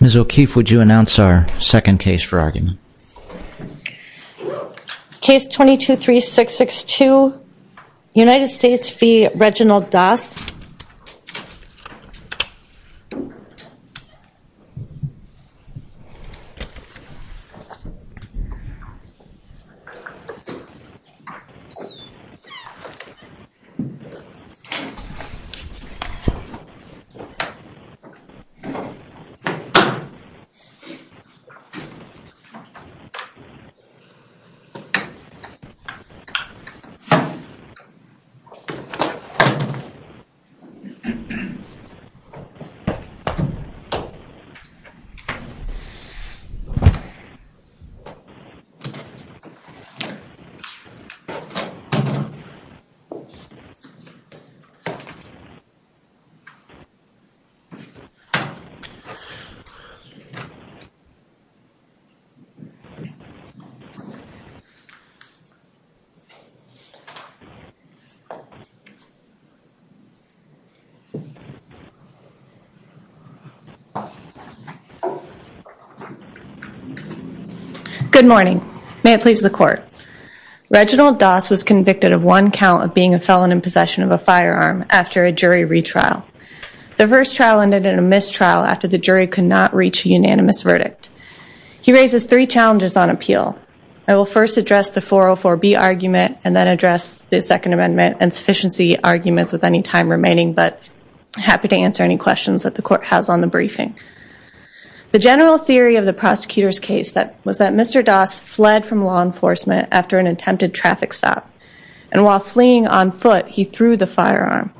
Ms. O'Keefe, would you announce our second case for argument? Case 22-3662, United States v. Reginald Doss Case 22-3662, United States v. Reginald Doss Ms. O'Keefe, would you announce our second case for argument? Good morning. May it please the Court. Reginald Doss was convicted of one count of being a felon in possession of a firearm after a jury retrial. The first trial ended in a mistrial after the jury could not reach a unanimous verdict. He raises three challenges on appeal. I will first address the 404B argument and then address the Second Amendment and sufficiency arguments with any time remaining, but happy to answer any questions that the Court has on the briefing. The general theory of the prosecutor's case was that Mr. Doss fled from law enforcement after an attempted traffic stop, and while fleeing on foot, he threw the firearm.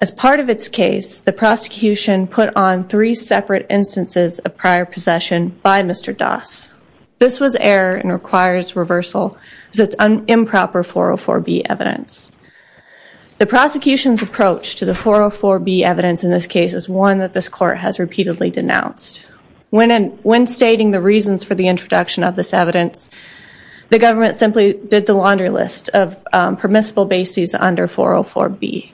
As part of its case, the prosecution put on three separate instances of prior possession by Mr. Doss. This was error and requires reversal as it's improper 404B evidence. The prosecution's approach to the 404B evidence in this case is one that this Court has repeatedly denounced. When stating the reasons for the introduction of this evidence, the government simply did the laundry list of permissible bases under 404B.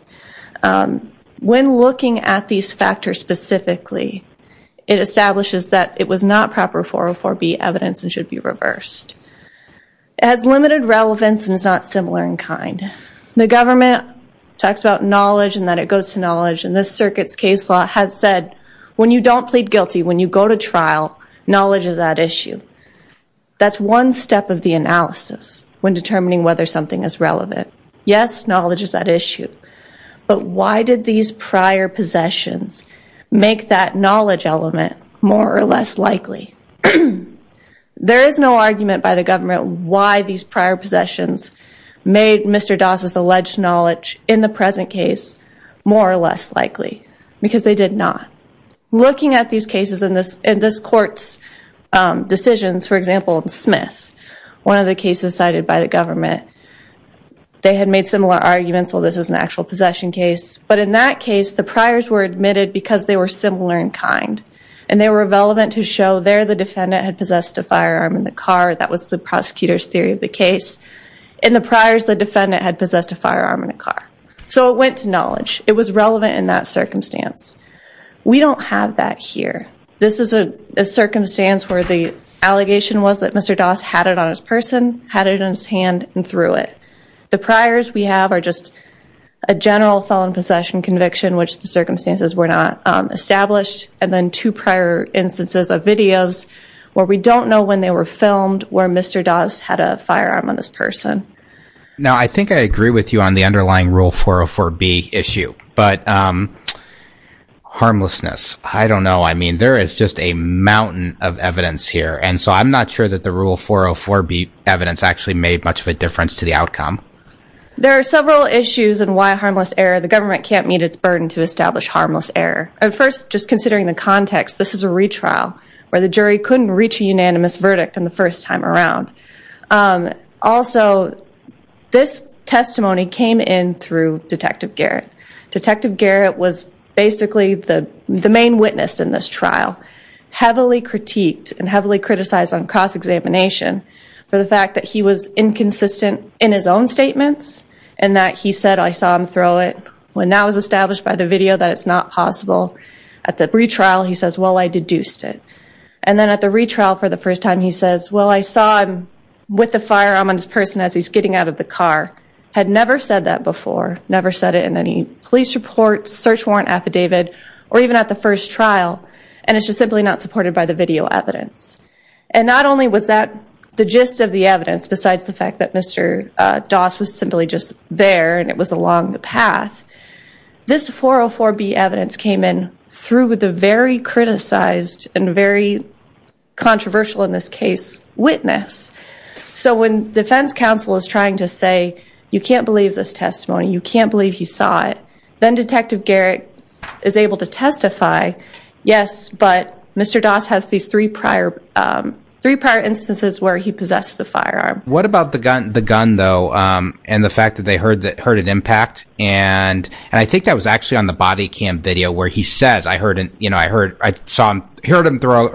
When looking at these factors specifically, it establishes that it was not proper 404B evidence and should be reversed. It has limited relevance and is not similar in kind. The government talks about knowledge and that it goes to knowledge, and this circuit's case law has said when you don't plead guilty, when you go to trial, knowledge is at issue. That's one step of the analysis when determining whether something is relevant. Yes, knowledge is at issue, but why did these prior possessions make that knowledge element more or less likely? There is no argument by the government why these prior possessions made Mr. Doss' alleged knowledge, in the present case, more or less likely, because they did not. Looking at these cases in this Court's decisions, for example, in Smith, one of the cases cited by the government, they had made similar arguments, well, this is an actual possession case, but in that case, the priors were admitted because they were similar in kind, and they were relevant to show there the defendant had possessed a firearm in the car. That was the prosecutor's theory of the case. In the priors, the defendant had possessed a firearm in a car, so it went to knowledge. It was relevant in that circumstance. We don't have that here. This is a circumstance where the allegation was that Mr. Doss had it on his person, had it in his hand, and threw it. The priors we have are just a general felon possession conviction, which the circumstances were not established, and then two prior instances of videos where we don't know when they were filmed, where Mr. Doss had a firearm on his person. Now, I think I agree with you on the underlying Rule 404B issue, but harmlessness, I don't know. I mean, there is just a mountain of evidence here, and so I'm not sure that the Rule 404B evidence actually made much of a difference to the outcome. There are several issues in why a harmless error, the government can't meet its burden to establish harmless error. First, just considering the context, this is a retrial where the jury couldn't reach a unanimous verdict in the first time around. Also, this testimony came in through Detective Garrett. Detective Garrett was basically the main witness in this trial, heavily critiqued and heavily criticized on cross-examination for the fact that he was inconsistent in his own statements and that he said, I saw him throw it when that was established by the video that it's not possible. At the retrial, he says, well, I deduced it. And then at the retrial for the first time, he says, well, I saw him with the firearm on his person as he's getting out of the car. Had never said that before. Never said it in any police report, search warrant affidavit, or even at the first trial. And it's just simply not supported by the video evidence. And not only was that the gist of the evidence, besides the fact that Mr. Doss was simply just there and it was along the path, this 404B evidence came in through the very criticized and very controversial in this case witness. So when defense counsel is trying to say, you can't believe this testimony, you can't believe he saw it, then Detective Garrett is able to testify, yes, but Mr. Doss has these three prior instances where he possesses a firearm. What about the gun, though, and the fact that they heard an impact? And I think that was actually on the body cam video where he says, I heard him throw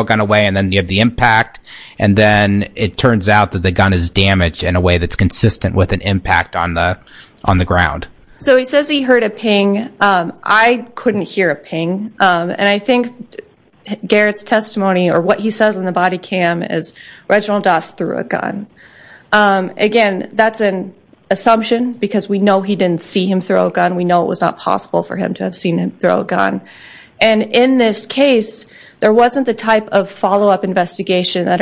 a gun away and then you have the impact. And then it turns out that the gun is damaged in a way that's consistent with an impact on the ground. So he says he heard a ping. I couldn't hear a ping. And I think Garrett's testimony or what he says in the body cam is Reginald Doss threw a gun. Again, that's an assumption because we know he didn't see him throw a gun. We know it was not possible for him to have seen him throw a gun. And in this case, there wasn't the type of follow-up investigation that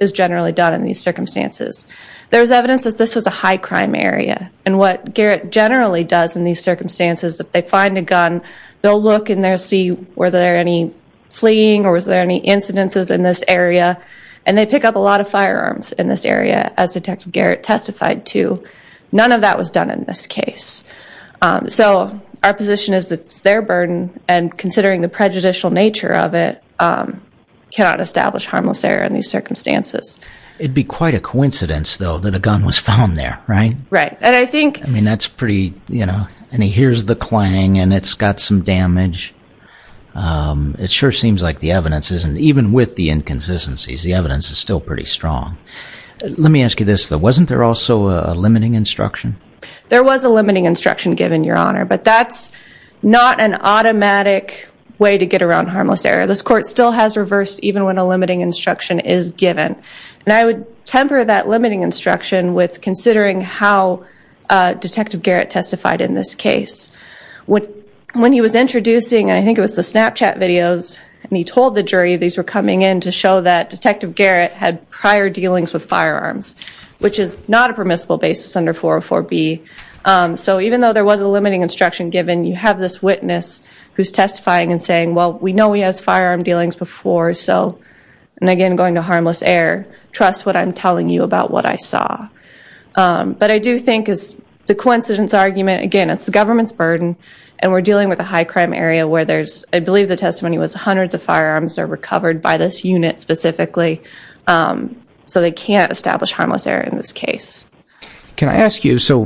is generally done in these circumstances. There's evidence that this was a high crime area. And what Garrett generally does in these circumstances, if they find a gun, they'll look and they'll see, were there any fleeing or was there any incidences in this area? And they pick up a lot of firearms in this area, as Detective Garrett testified to. None of that was done in this case. So our position is that it's their burden, and considering the prejudicial nature of it, cannot establish harmless error in these circumstances. It'd be quite a coincidence, though, that a gun was found there, right? Right. And I think... I mean, that's pretty, you know, and he hears the clang and it's got some damage. It sure seems like the evidence isn't, even with the inconsistencies, the evidence is still pretty strong. Let me ask you this, though. Wasn't there also a limiting instruction? There was a limiting instruction given, Your Honor, but that's not an automatic way to get around harmless error. This court still has reversed even when a limiting instruction is given. And I would temper that limiting instruction with considering how Detective Garrett testified in this case. When he was introducing, I think it was the Snapchat videos, and he told the jury these were coming in to show that Detective Garrett had prior dealings with firearms, which is not a permissible basis under 404B. So even though there was a limiting instruction given, you have this witness who's testifying and saying, well, we know he has firearm dealings before, so... And again, going to harmless error, trust what I'm telling you about what I saw. But I do think, as the coincidence argument, again, it's the government's burden, and we're dealing with a high-crime area where there's... I believe the testimony was hundreds of firearms are recovered by this unit specifically, so they can't establish harmless error in this case. Can I ask you, so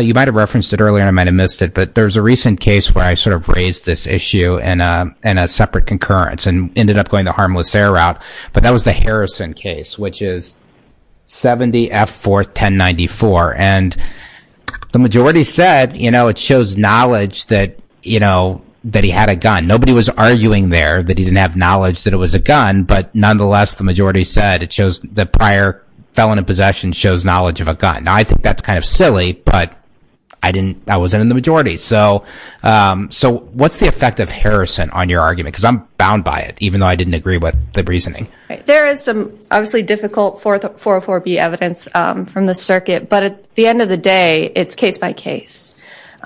you might have referenced it earlier and I might have missed it, but there's a recent case where I sort of raised this issue in a separate concurrence and ended up going the harmless error route, but that was the Harrison case, which is 70F41094. And the majority said it shows knowledge that he had a gun. Nobody was arguing there that he didn't have knowledge that it was a gun, but nonetheless, the majority said the prior felon in possession shows knowledge of a gun. Now, I think that's kind of silly, but I wasn't in the majority. So what's the effect of Harrison on your argument? Because I'm bound by it, even though I didn't agree with the reasoning. There is some obviously difficult 404B evidence from the circuit, but at the end of the day, it's case by case.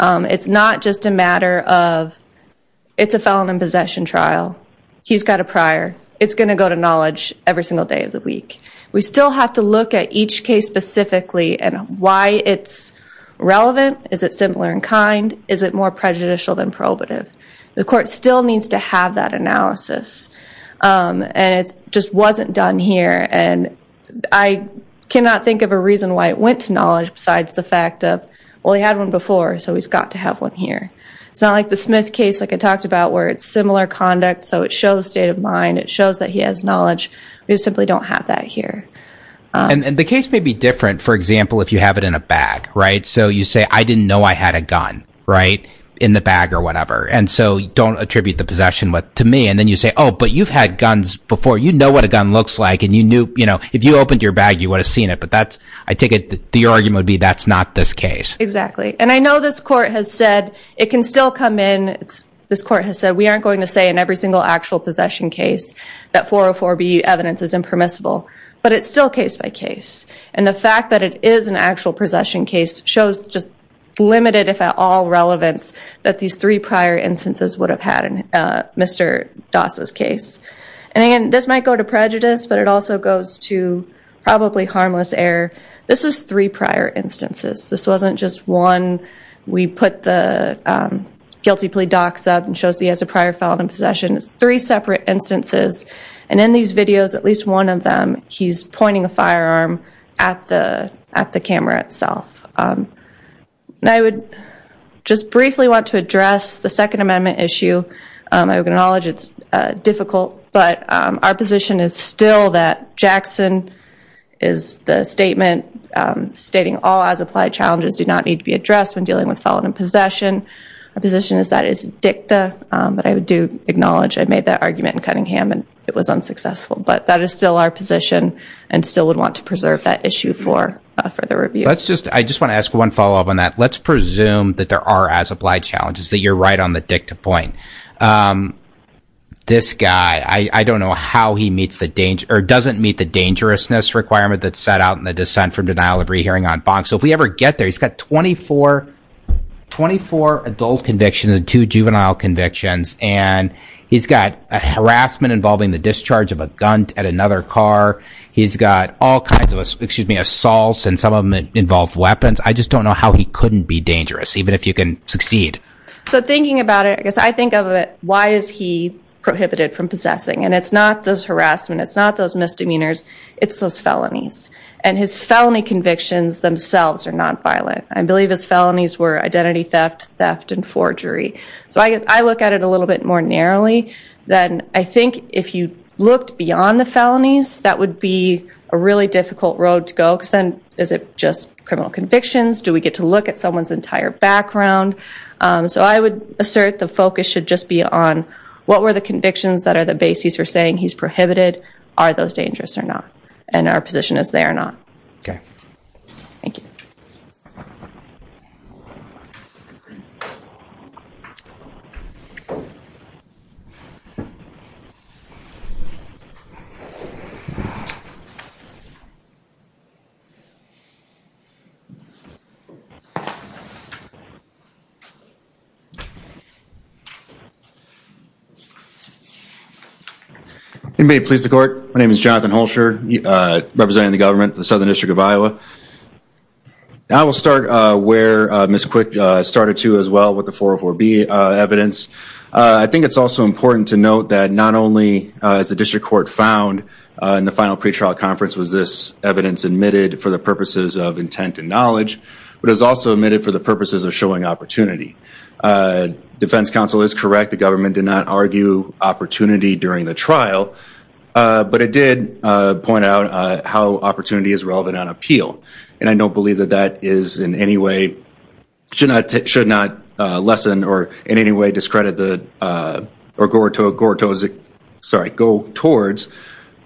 It's not just a matter of it's a felon in possession trial. He's got a prior. It's going to go to knowledge every single day of the week. We still have to look at each case specifically and why it's relevant. Is it similar in kind? Is it more prejudicial than probative? The court still needs to have that analysis, and it just wasn't done here. And I cannot think of a reason why it went to knowledge besides the fact of, well, he had one before, so he's got to have one here. It's not like the Smith case, like I talked about, where it's similar conduct, so it shows state of mind, it shows that he has knowledge. We just simply don't have that here. And the case may be different, for example, if you have it in a bag, right? So you say, I didn't know I had a gun, right, in the bag or whatever, and so don't attribute the possession to me. And then you say, oh, but you've had guns before. You know what a gun looks like, and you knew. If you opened your bag, you would have seen it. But that's, I take it, the argument would be that's not this case. Exactly. And I know this court has said it can still come in. This court has said we aren't going to say in every single actual possession case that 404B evidence is impermissible, but it's still case by case. And the fact that it is an actual possession case shows just limited, if at all, relevance that these three prior instances would have had in Mr. Doss' case. And, again, this might go to prejudice, but it also goes to probably harmless error. This was three prior instances. This wasn't just one we put the guilty plea docs up and shows he has a prior felon in possession. It's three separate instances. And in these videos, at least one of them, he's pointing a firearm at the camera itself. I would just briefly want to address the Second Amendment issue. I acknowledge it's difficult, but our position is still that Jackson is the statement stating all as-applied challenges do not need to be addressed when dealing with felon in possession. Our position is that is dicta, but I do acknowledge I made that argument in Cunningham and it was unsuccessful, but that is still our position and still would want to preserve that issue for further review. I just want to ask one follow-up on that. Let's presume that there are as-applied challenges, that you're right on the dicta point. This guy, I don't know how he doesn't meet the dangerousness requirement that's set out in the Dissent from Denial of Rehearing on Bond. So if we ever get there, he's got 24 adult convictions and two juvenile convictions, and he's got harassment involving the discharge of a gun at another car. He's got all kinds of assaults, and some of them involve weapons. I just don't know how he couldn't be dangerous, even if you can succeed. So thinking about it, I guess I think of it, why is he prohibited from possessing? And it's not those harassment, it's not those misdemeanors, it's those felonies. And his felony convictions themselves are nonviolent. I believe his felonies were identity theft, theft, and forgery. So I guess I look at it a little bit more narrowly than I think if you looked beyond the felonies, that would be a really difficult road to go because then is it just criminal convictions? Do we get to look at someone's entire background? So I would assert the focus should just be on what were the convictions that are the bases for saying he's prohibited, are those dangerous or not, and our position is they are not. Okay. Thank you. Thank you. May it please the court. My name is Jonathan Holscher, representing the government, the Southern District of Iowa. I will start where Ms. Quick started to as well with the 404B evidence. I think it's also important to note that not only is the district court found in the final pretrial conference was this evidence admitted for the purposes of intent and knowledge, but it was also admitted for the purposes of showing opportunity. Defense counsel is correct. The government did not argue opportunity during the trial, but it did point out how opportunity is relevant on appeal. And I don't believe that that is in any way should not lessen or in any way discredit the or go towards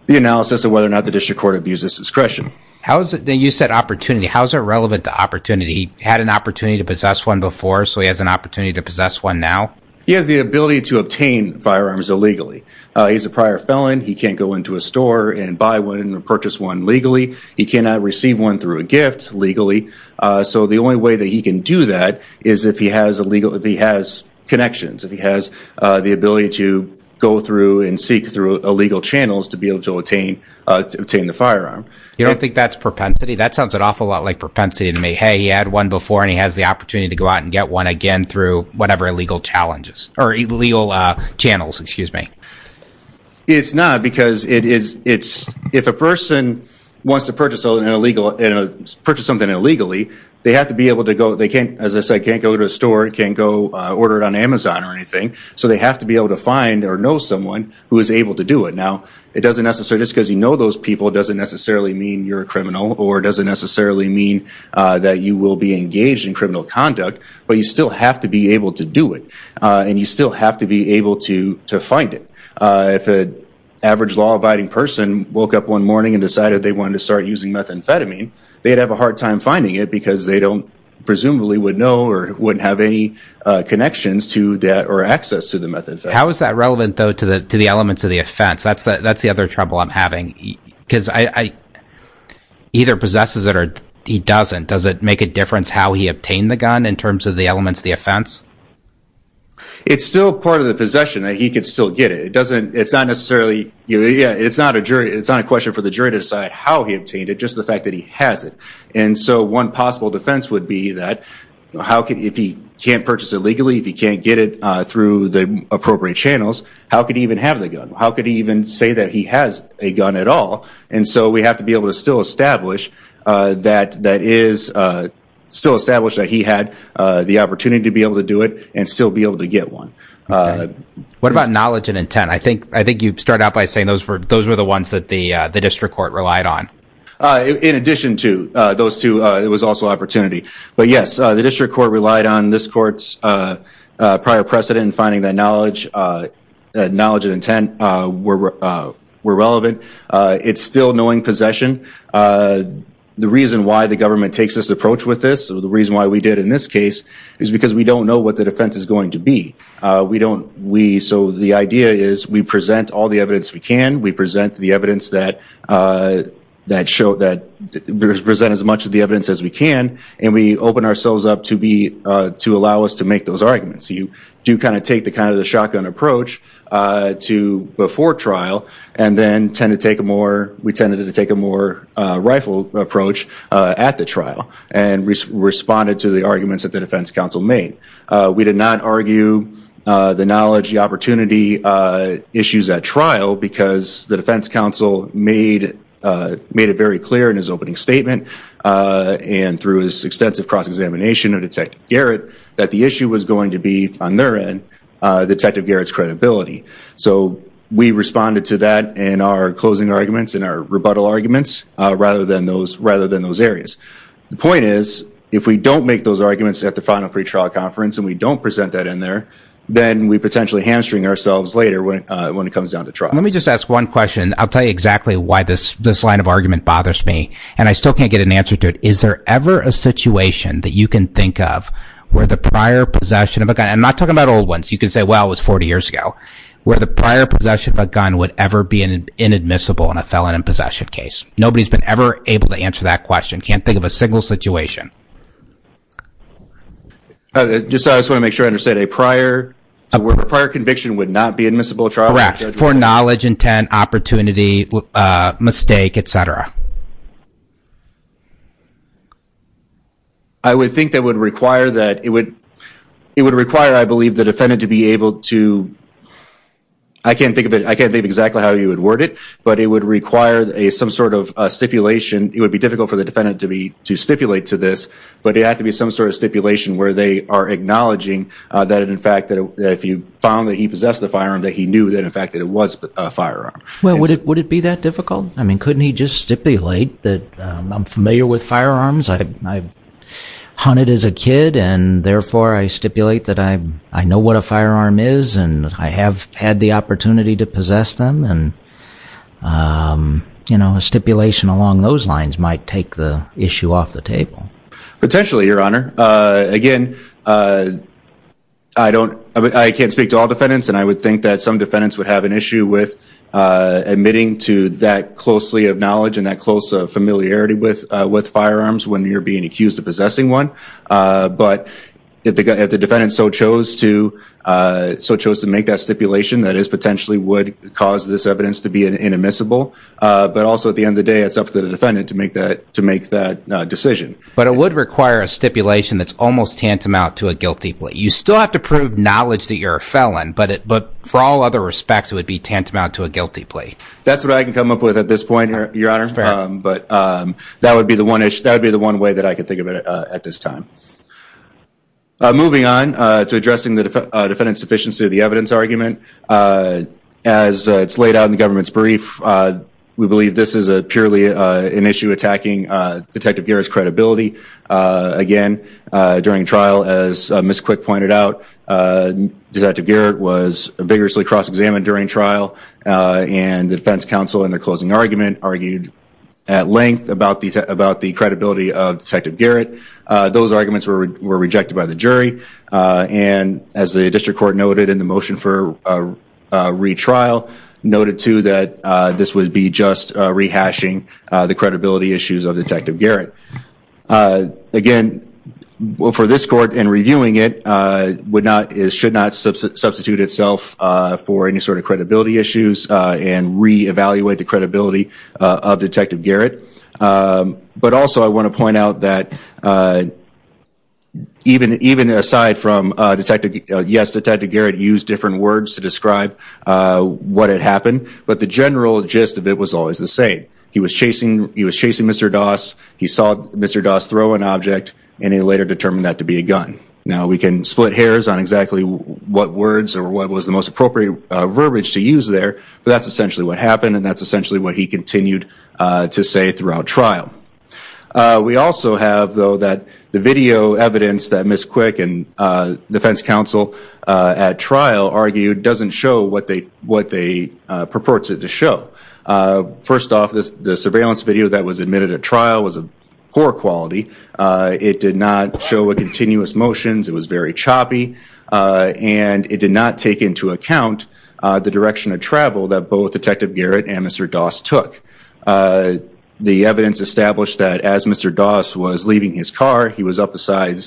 the analysis of whether or not the district court abuses discretion. You said opportunity. How is that relevant to opportunity? He had an opportunity to possess one before, so he has an opportunity to possess one now? He has the ability to obtain firearms illegally. He's a prior felon. He can't go into a store and buy one and purchase one legally. He cannot receive one through a gift legally. So the only way that he can do that is if he has connections, if he has the ability to go through and seek through illegal channels to be able to obtain the firearm. You don't think that's propensity? That sounds an awful lot like propensity to me. Hey, he had one before and he has the opportunity to go out and get one again through whatever illegal challenges or illegal channels, excuse me. It's not because if a person wants to purchase something illegally, they have to be able to go. They can't, as I said, can't go to a store, can't go order it on Amazon or anything. So they have to be able to find or know someone who is able to do it. Now, it doesn't necessarily, just because you know those people doesn't necessarily mean you're a criminal or doesn't necessarily mean that you will be engaged in criminal conduct, but you still have to be able to do it and you still have to be able to find it. If an average law-abiding person woke up one morning and decided they wanted to start using methamphetamine, they'd have a hard time finding it because they don't presumably would know or wouldn't have any connections to that or access to the methamphetamine. How is that relevant, though, to the elements of the offense? That's the other trouble I'm having because he either possesses it or he doesn't. Does it make a difference how he obtained the gun in terms of the elements of the offense? It's still part of the possession. He could still get it. It's not necessarily, it's not a question for the jury to decide how he obtained it, just the fact that he has it. And so one possible defense would be that if he can't purchase it legally, if he can't get it through the appropriate channels, how could he even have the gun? How could he even say that he has a gun at all? And so we have to be able to still establish that he had the opportunity to be able to do it and still be able to get one. What about knowledge and intent? I think you started out by saying those were the ones that the district court relied on. In addition to those two, it was also opportunity. But, yes, the district court relied on this court's prior precedent in finding that knowledge and intent were relevant. It's still knowing possession. The reason why the government takes this approach with this, the reason why we did in this case, is because we don't know what the defense is going to be. So the idea is we present all the evidence we can, we present as much of the evidence as we can, and we open ourselves up to allow us to make those arguments. You do kind of take the shotgun approach before trial, and then we tended to take a more rifle approach at the trial and responded to the arguments that the defense counsel made. We did not argue the knowledge, the opportunity issues at trial because the defense counsel made it very clear in his opening statement and through his extensive cross-examination of Detective Garrett that the issue was going to be, on their end, Detective Garrett's credibility. So we responded to that in our closing arguments, in our rebuttal arguments, rather than those areas. The point is, if we don't make those arguments at the final pretrial conference and we don't present that in there, then we potentially hamstring ourselves later when it comes down to trial. Let me just ask one question. I'll tell you exactly why this line of argument bothers me, and I still can't get an answer to it. Is there ever a situation that you can think of where the prior possession of a gun, and I'm not talking about old ones, you can say, well, it was 40 years ago, where the prior possession of a gun would ever be inadmissible in a felon in possession case? Nobody's been ever able to answer that question. I can't think of a single situation. I just want to make sure I understand. A prior conviction would not be admissible in a trial? Correct, for knowledge, intent, opportunity, mistake, et cetera. I would think that would require that it would require, I believe, the defendant to be able to, I can't think of exactly how you would word it, but it would require some sort of stipulation. It would be difficult for the defendant to stipulate to this, but it would have to be some sort of stipulation where they are acknowledging that, in fact, if you found that he possessed a firearm, that he knew, in fact, that it was a firearm. Well, would it be that difficult? I mean, couldn't he just stipulate that I'm familiar with firearms, I hunted as a kid, and therefore I stipulate that I know what a firearm is and I have had the opportunity to possess them? You know, a stipulation along those lines might take the issue off the table. Potentially, Your Honor. Again, I can't speak to all defendants, and I would think that some defendants would have an issue with admitting to that closely of knowledge and that close familiarity with firearms when you're being accused of possessing one. But if the defendant so chose to make that stipulation, that potentially would cause this evidence to be inadmissible, but also at the end of the day it's up to the defendant to make that decision. But it would require a stipulation that's almost tantamount to a guilty plea. You still have to prove knowledge that you're a felon, but for all other respects it would be tantamount to a guilty plea. That's what I can come up with at this point, Your Honor. That's fair. Moving on to addressing the defendant's sufficiency of the evidence argument. As it's laid out in the government's brief, we believe this is purely an issue attacking Detective Garrett's credibility. Again, during trial, as Ms. Quick pointed out, Detective Garrett was vigorously cross-examined during trial, and the defense counsel in their closing argument argued at length about the credibility of Detective Garrett. Those arguments were rejected by the jury, and as the district court noted in the motion for retrial, noted too that this would be just rehashing the credibility issues of Detective Garrett. Again, for this court, in reviewing it, it should not substitute itself for any sort of credibility issues and re-evaluate the credibility of Detective Garrett. But also, I want to point out that even aside from, yes, Detective Garrett used different words to describe what had happened, but the general gist of it was always the same. He was chasing Mr. Doss, he saw Mr. Doss throw an object, and he later determined that to be a gun. Now, we can split hairs on exactly what words or what was the most appropriate verbiage to use there, but that's essentially what happened, and that's essentially what he continued to say throughout trial. We also have, though, that the video evidence that Ms. Quick and defense counsel at trial argued doesn't show what they purports it to show. First off, the surveillance video that was admitted at trial was of poor quality. It did not show continuous motions, it was very choppy, and it did not take into account the direction of travel that both Detective Garrett and Mr. Doss took. The evidence established that as Mr. Doss was leaving his car, he was up beside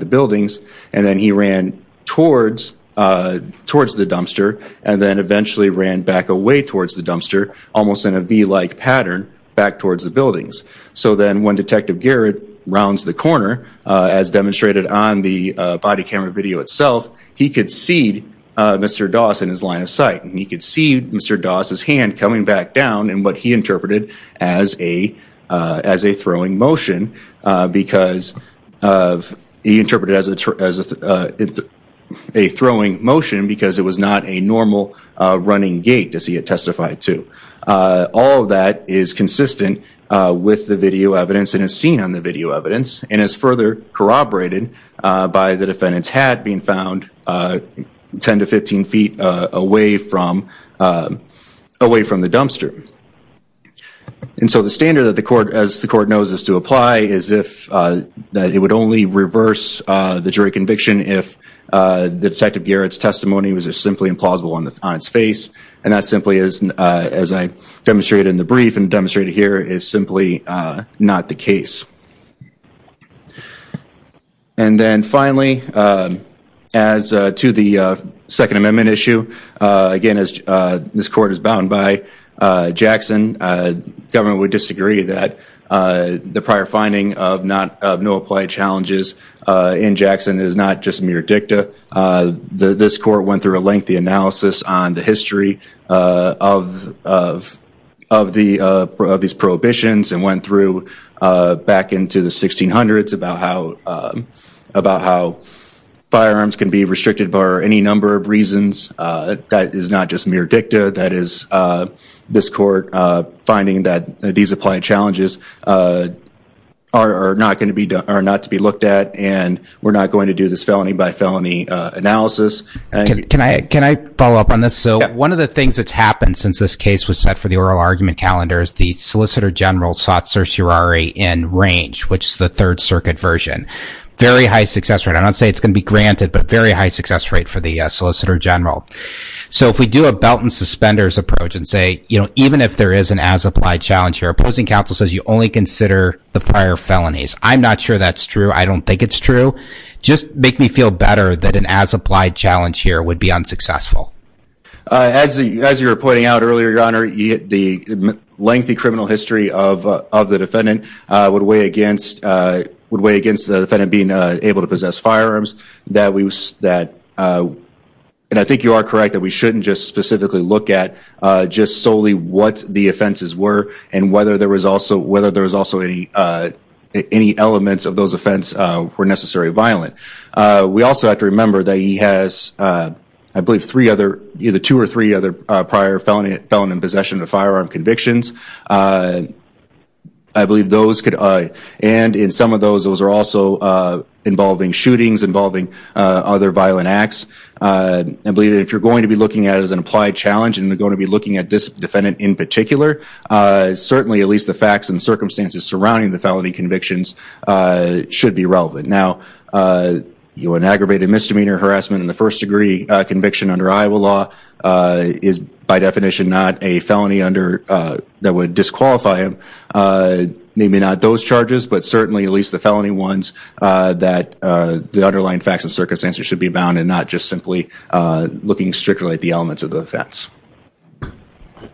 the buildings, and then he ran towards the dumpster and then eventually ran back away towards the dumpster, almost in a V-like pattern back towards the buildings. So then when Detective Garrett rounds the corner, as demonstrated on the body camera video itself, he could see Mr. Doss in his line of sight, and he could see Mr. Doss's hand coming back down in what he interpreted as a throwing motion because it was not a normal running gait, as he had testified to. All of that is consistent with the video evidence and is seen on the video evidence, and is further corroborated by the defendant's hat being found 10 to 15 feet away from the dumpster. And so the standard, as the court knows, is to apply as if it would only reverse the jury conviction if Detective Garrett's testimony was simply implausible on its face, and that simply is, as I demonstrated in the brief and demonstrated here, is simply not the case. And then finally, as to the Second Amendment issue, again as this court is bound by Jackson, government would disagree that the prior finding of no applied challenges in Jackson is not just mere dicta. This court went through a lengthy analysis on the history of these prohibitions and went through back into the 1600s about how firearms can be restricted for any number of reasons. That is not just mere dicta. That is this court finding that these applied challenges are not to be looked at, and we're not going to do this felony-by-felony analysis. Can I follow up on this? One of the things that's happened since this case was set for the oral argument calendar is the Solicitor General sought certiorari in range, which is the Third Circuit version. Very high success rate. I'm not saying it's going to be granted, but a very high success rate for the Solicitor General. So if we do a belt and suspenders approach and say, even if there is an as-applied challenge here, opposing counsel says you only consider the prior felonies. I'm not sure that's true. I don't think it's true. Just make me feel better that an as-applied challenge here would be unsuccessful. As you were pointing out earlier, Your Honor, the lengthy criminal history of the defendant would weigh against the defendant being able to possess firearms. And I think you are correct that we shouldn't just specifically look at just solely what the offenses were and whether there was also any elements of those offenses were necessarily violent. We also have to remember that he has, I believe, either two or three other prior felon possession of firearm convictions. I believe those could, and in some of those, those are also involving shootings, involving other violent acts. I believe that if you're going to be looking at it as an applied challenge and you're going to be looking at this defendant in particular, certainly at least the facts and circumstances surrounding the felony convictions should be relevant. Now, an aggravated misdemeanor harassment in the first degree conviction under Iowa law is by definition not a felony that would disqualify him. Maybe not those charges, but certainly at least the felony ones that the underlying facts and circumstances should be bound and not just simply looking strictly at the elements of the offense.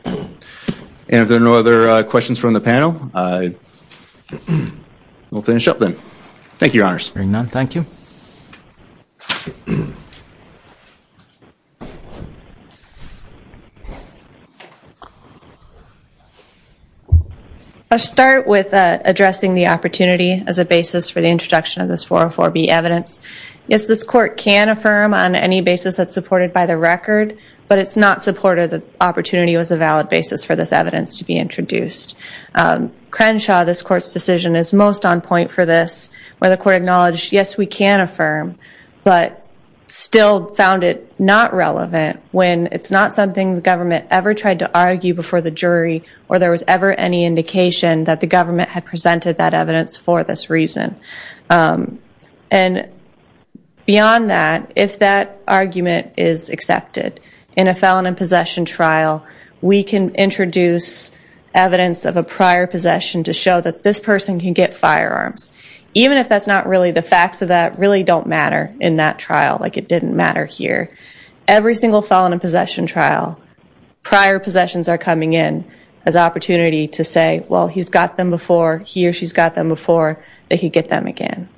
And if there are no other questions from the panel, we'll finish up then. Thank you, Your Honors. Hearing none, thank you. I'll start with addressing the opportunity as a basis for the introduction of this 404B evidence. Yes, this court can affirm on any basis that's supported by the record, but it's not supported that opportunity was a valid basis for this evidence to be introduced. Crenshaw, this court's decision, is most on point for this, where the court acknowledged, yes, we can affirm, but still found it not relevant when it's not something the government ever tried to argue before the jury or there was ever any indication that the government had presented that evidence for this reason. And beyond that, if that argument is accepted in a felon in possession trial, we can introduce evidence of a prior possession to show that this person can get firearms, even if that's not really the facts of that really don't matter in that trial, like it didn't matter here. Every single felon in possession trial, prior possessions are coming in as opportunity to say, well, he's got them before he or she's got them before they could get them again.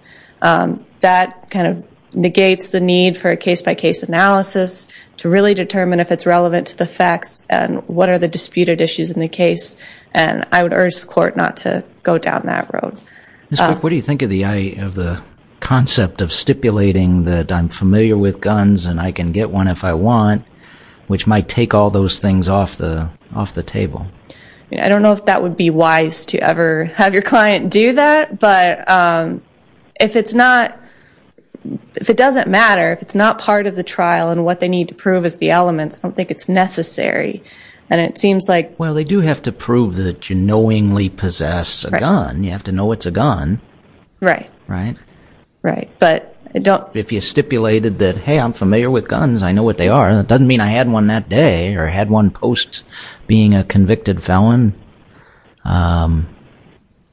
That kind of negates the need for a case-by-case analysis to really determine if it's relevant to the facts and what are the disputed issues in the case. And I would urge the court not to go down that road. Ms. Cook, what do you think of the concept of stipulating that I'm familiar with guns and I can get one if I want, which might take all those things off the table? I don't know if that would be wise to ever have your client do that. But if it's not, if it doesn't matter, if it's not part of the trial and what they need to prove is the elements, I don't think it's necessary. And it seems like... Well, they do have to prove that you knowingly possess a gun. You have to know it's a gun. Right. Right. Right. But I don't... If you stipulated that, hey, I'm familiar with guns, I know what they are, that doesn't mean I had one that day or had one post being a convicted felon. I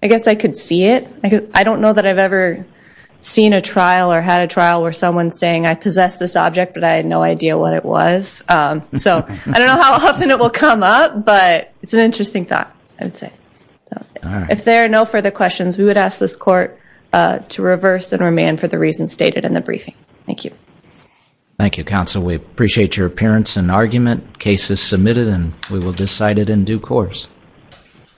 guess I could see it. I don't know that I've ever seen a trial or had a trial where someone's saying, I possess this object, but I had no idea what it was. So I don't know how often it will come up, but it's an interesting thought, I would say. If there are no further questions, we would ask this court to reverse and remand for the reasons stated in the briefing. Thank you. Thank you, counsel. We appreciate your appearance and argument. Case is submitted and we will decide it in due course.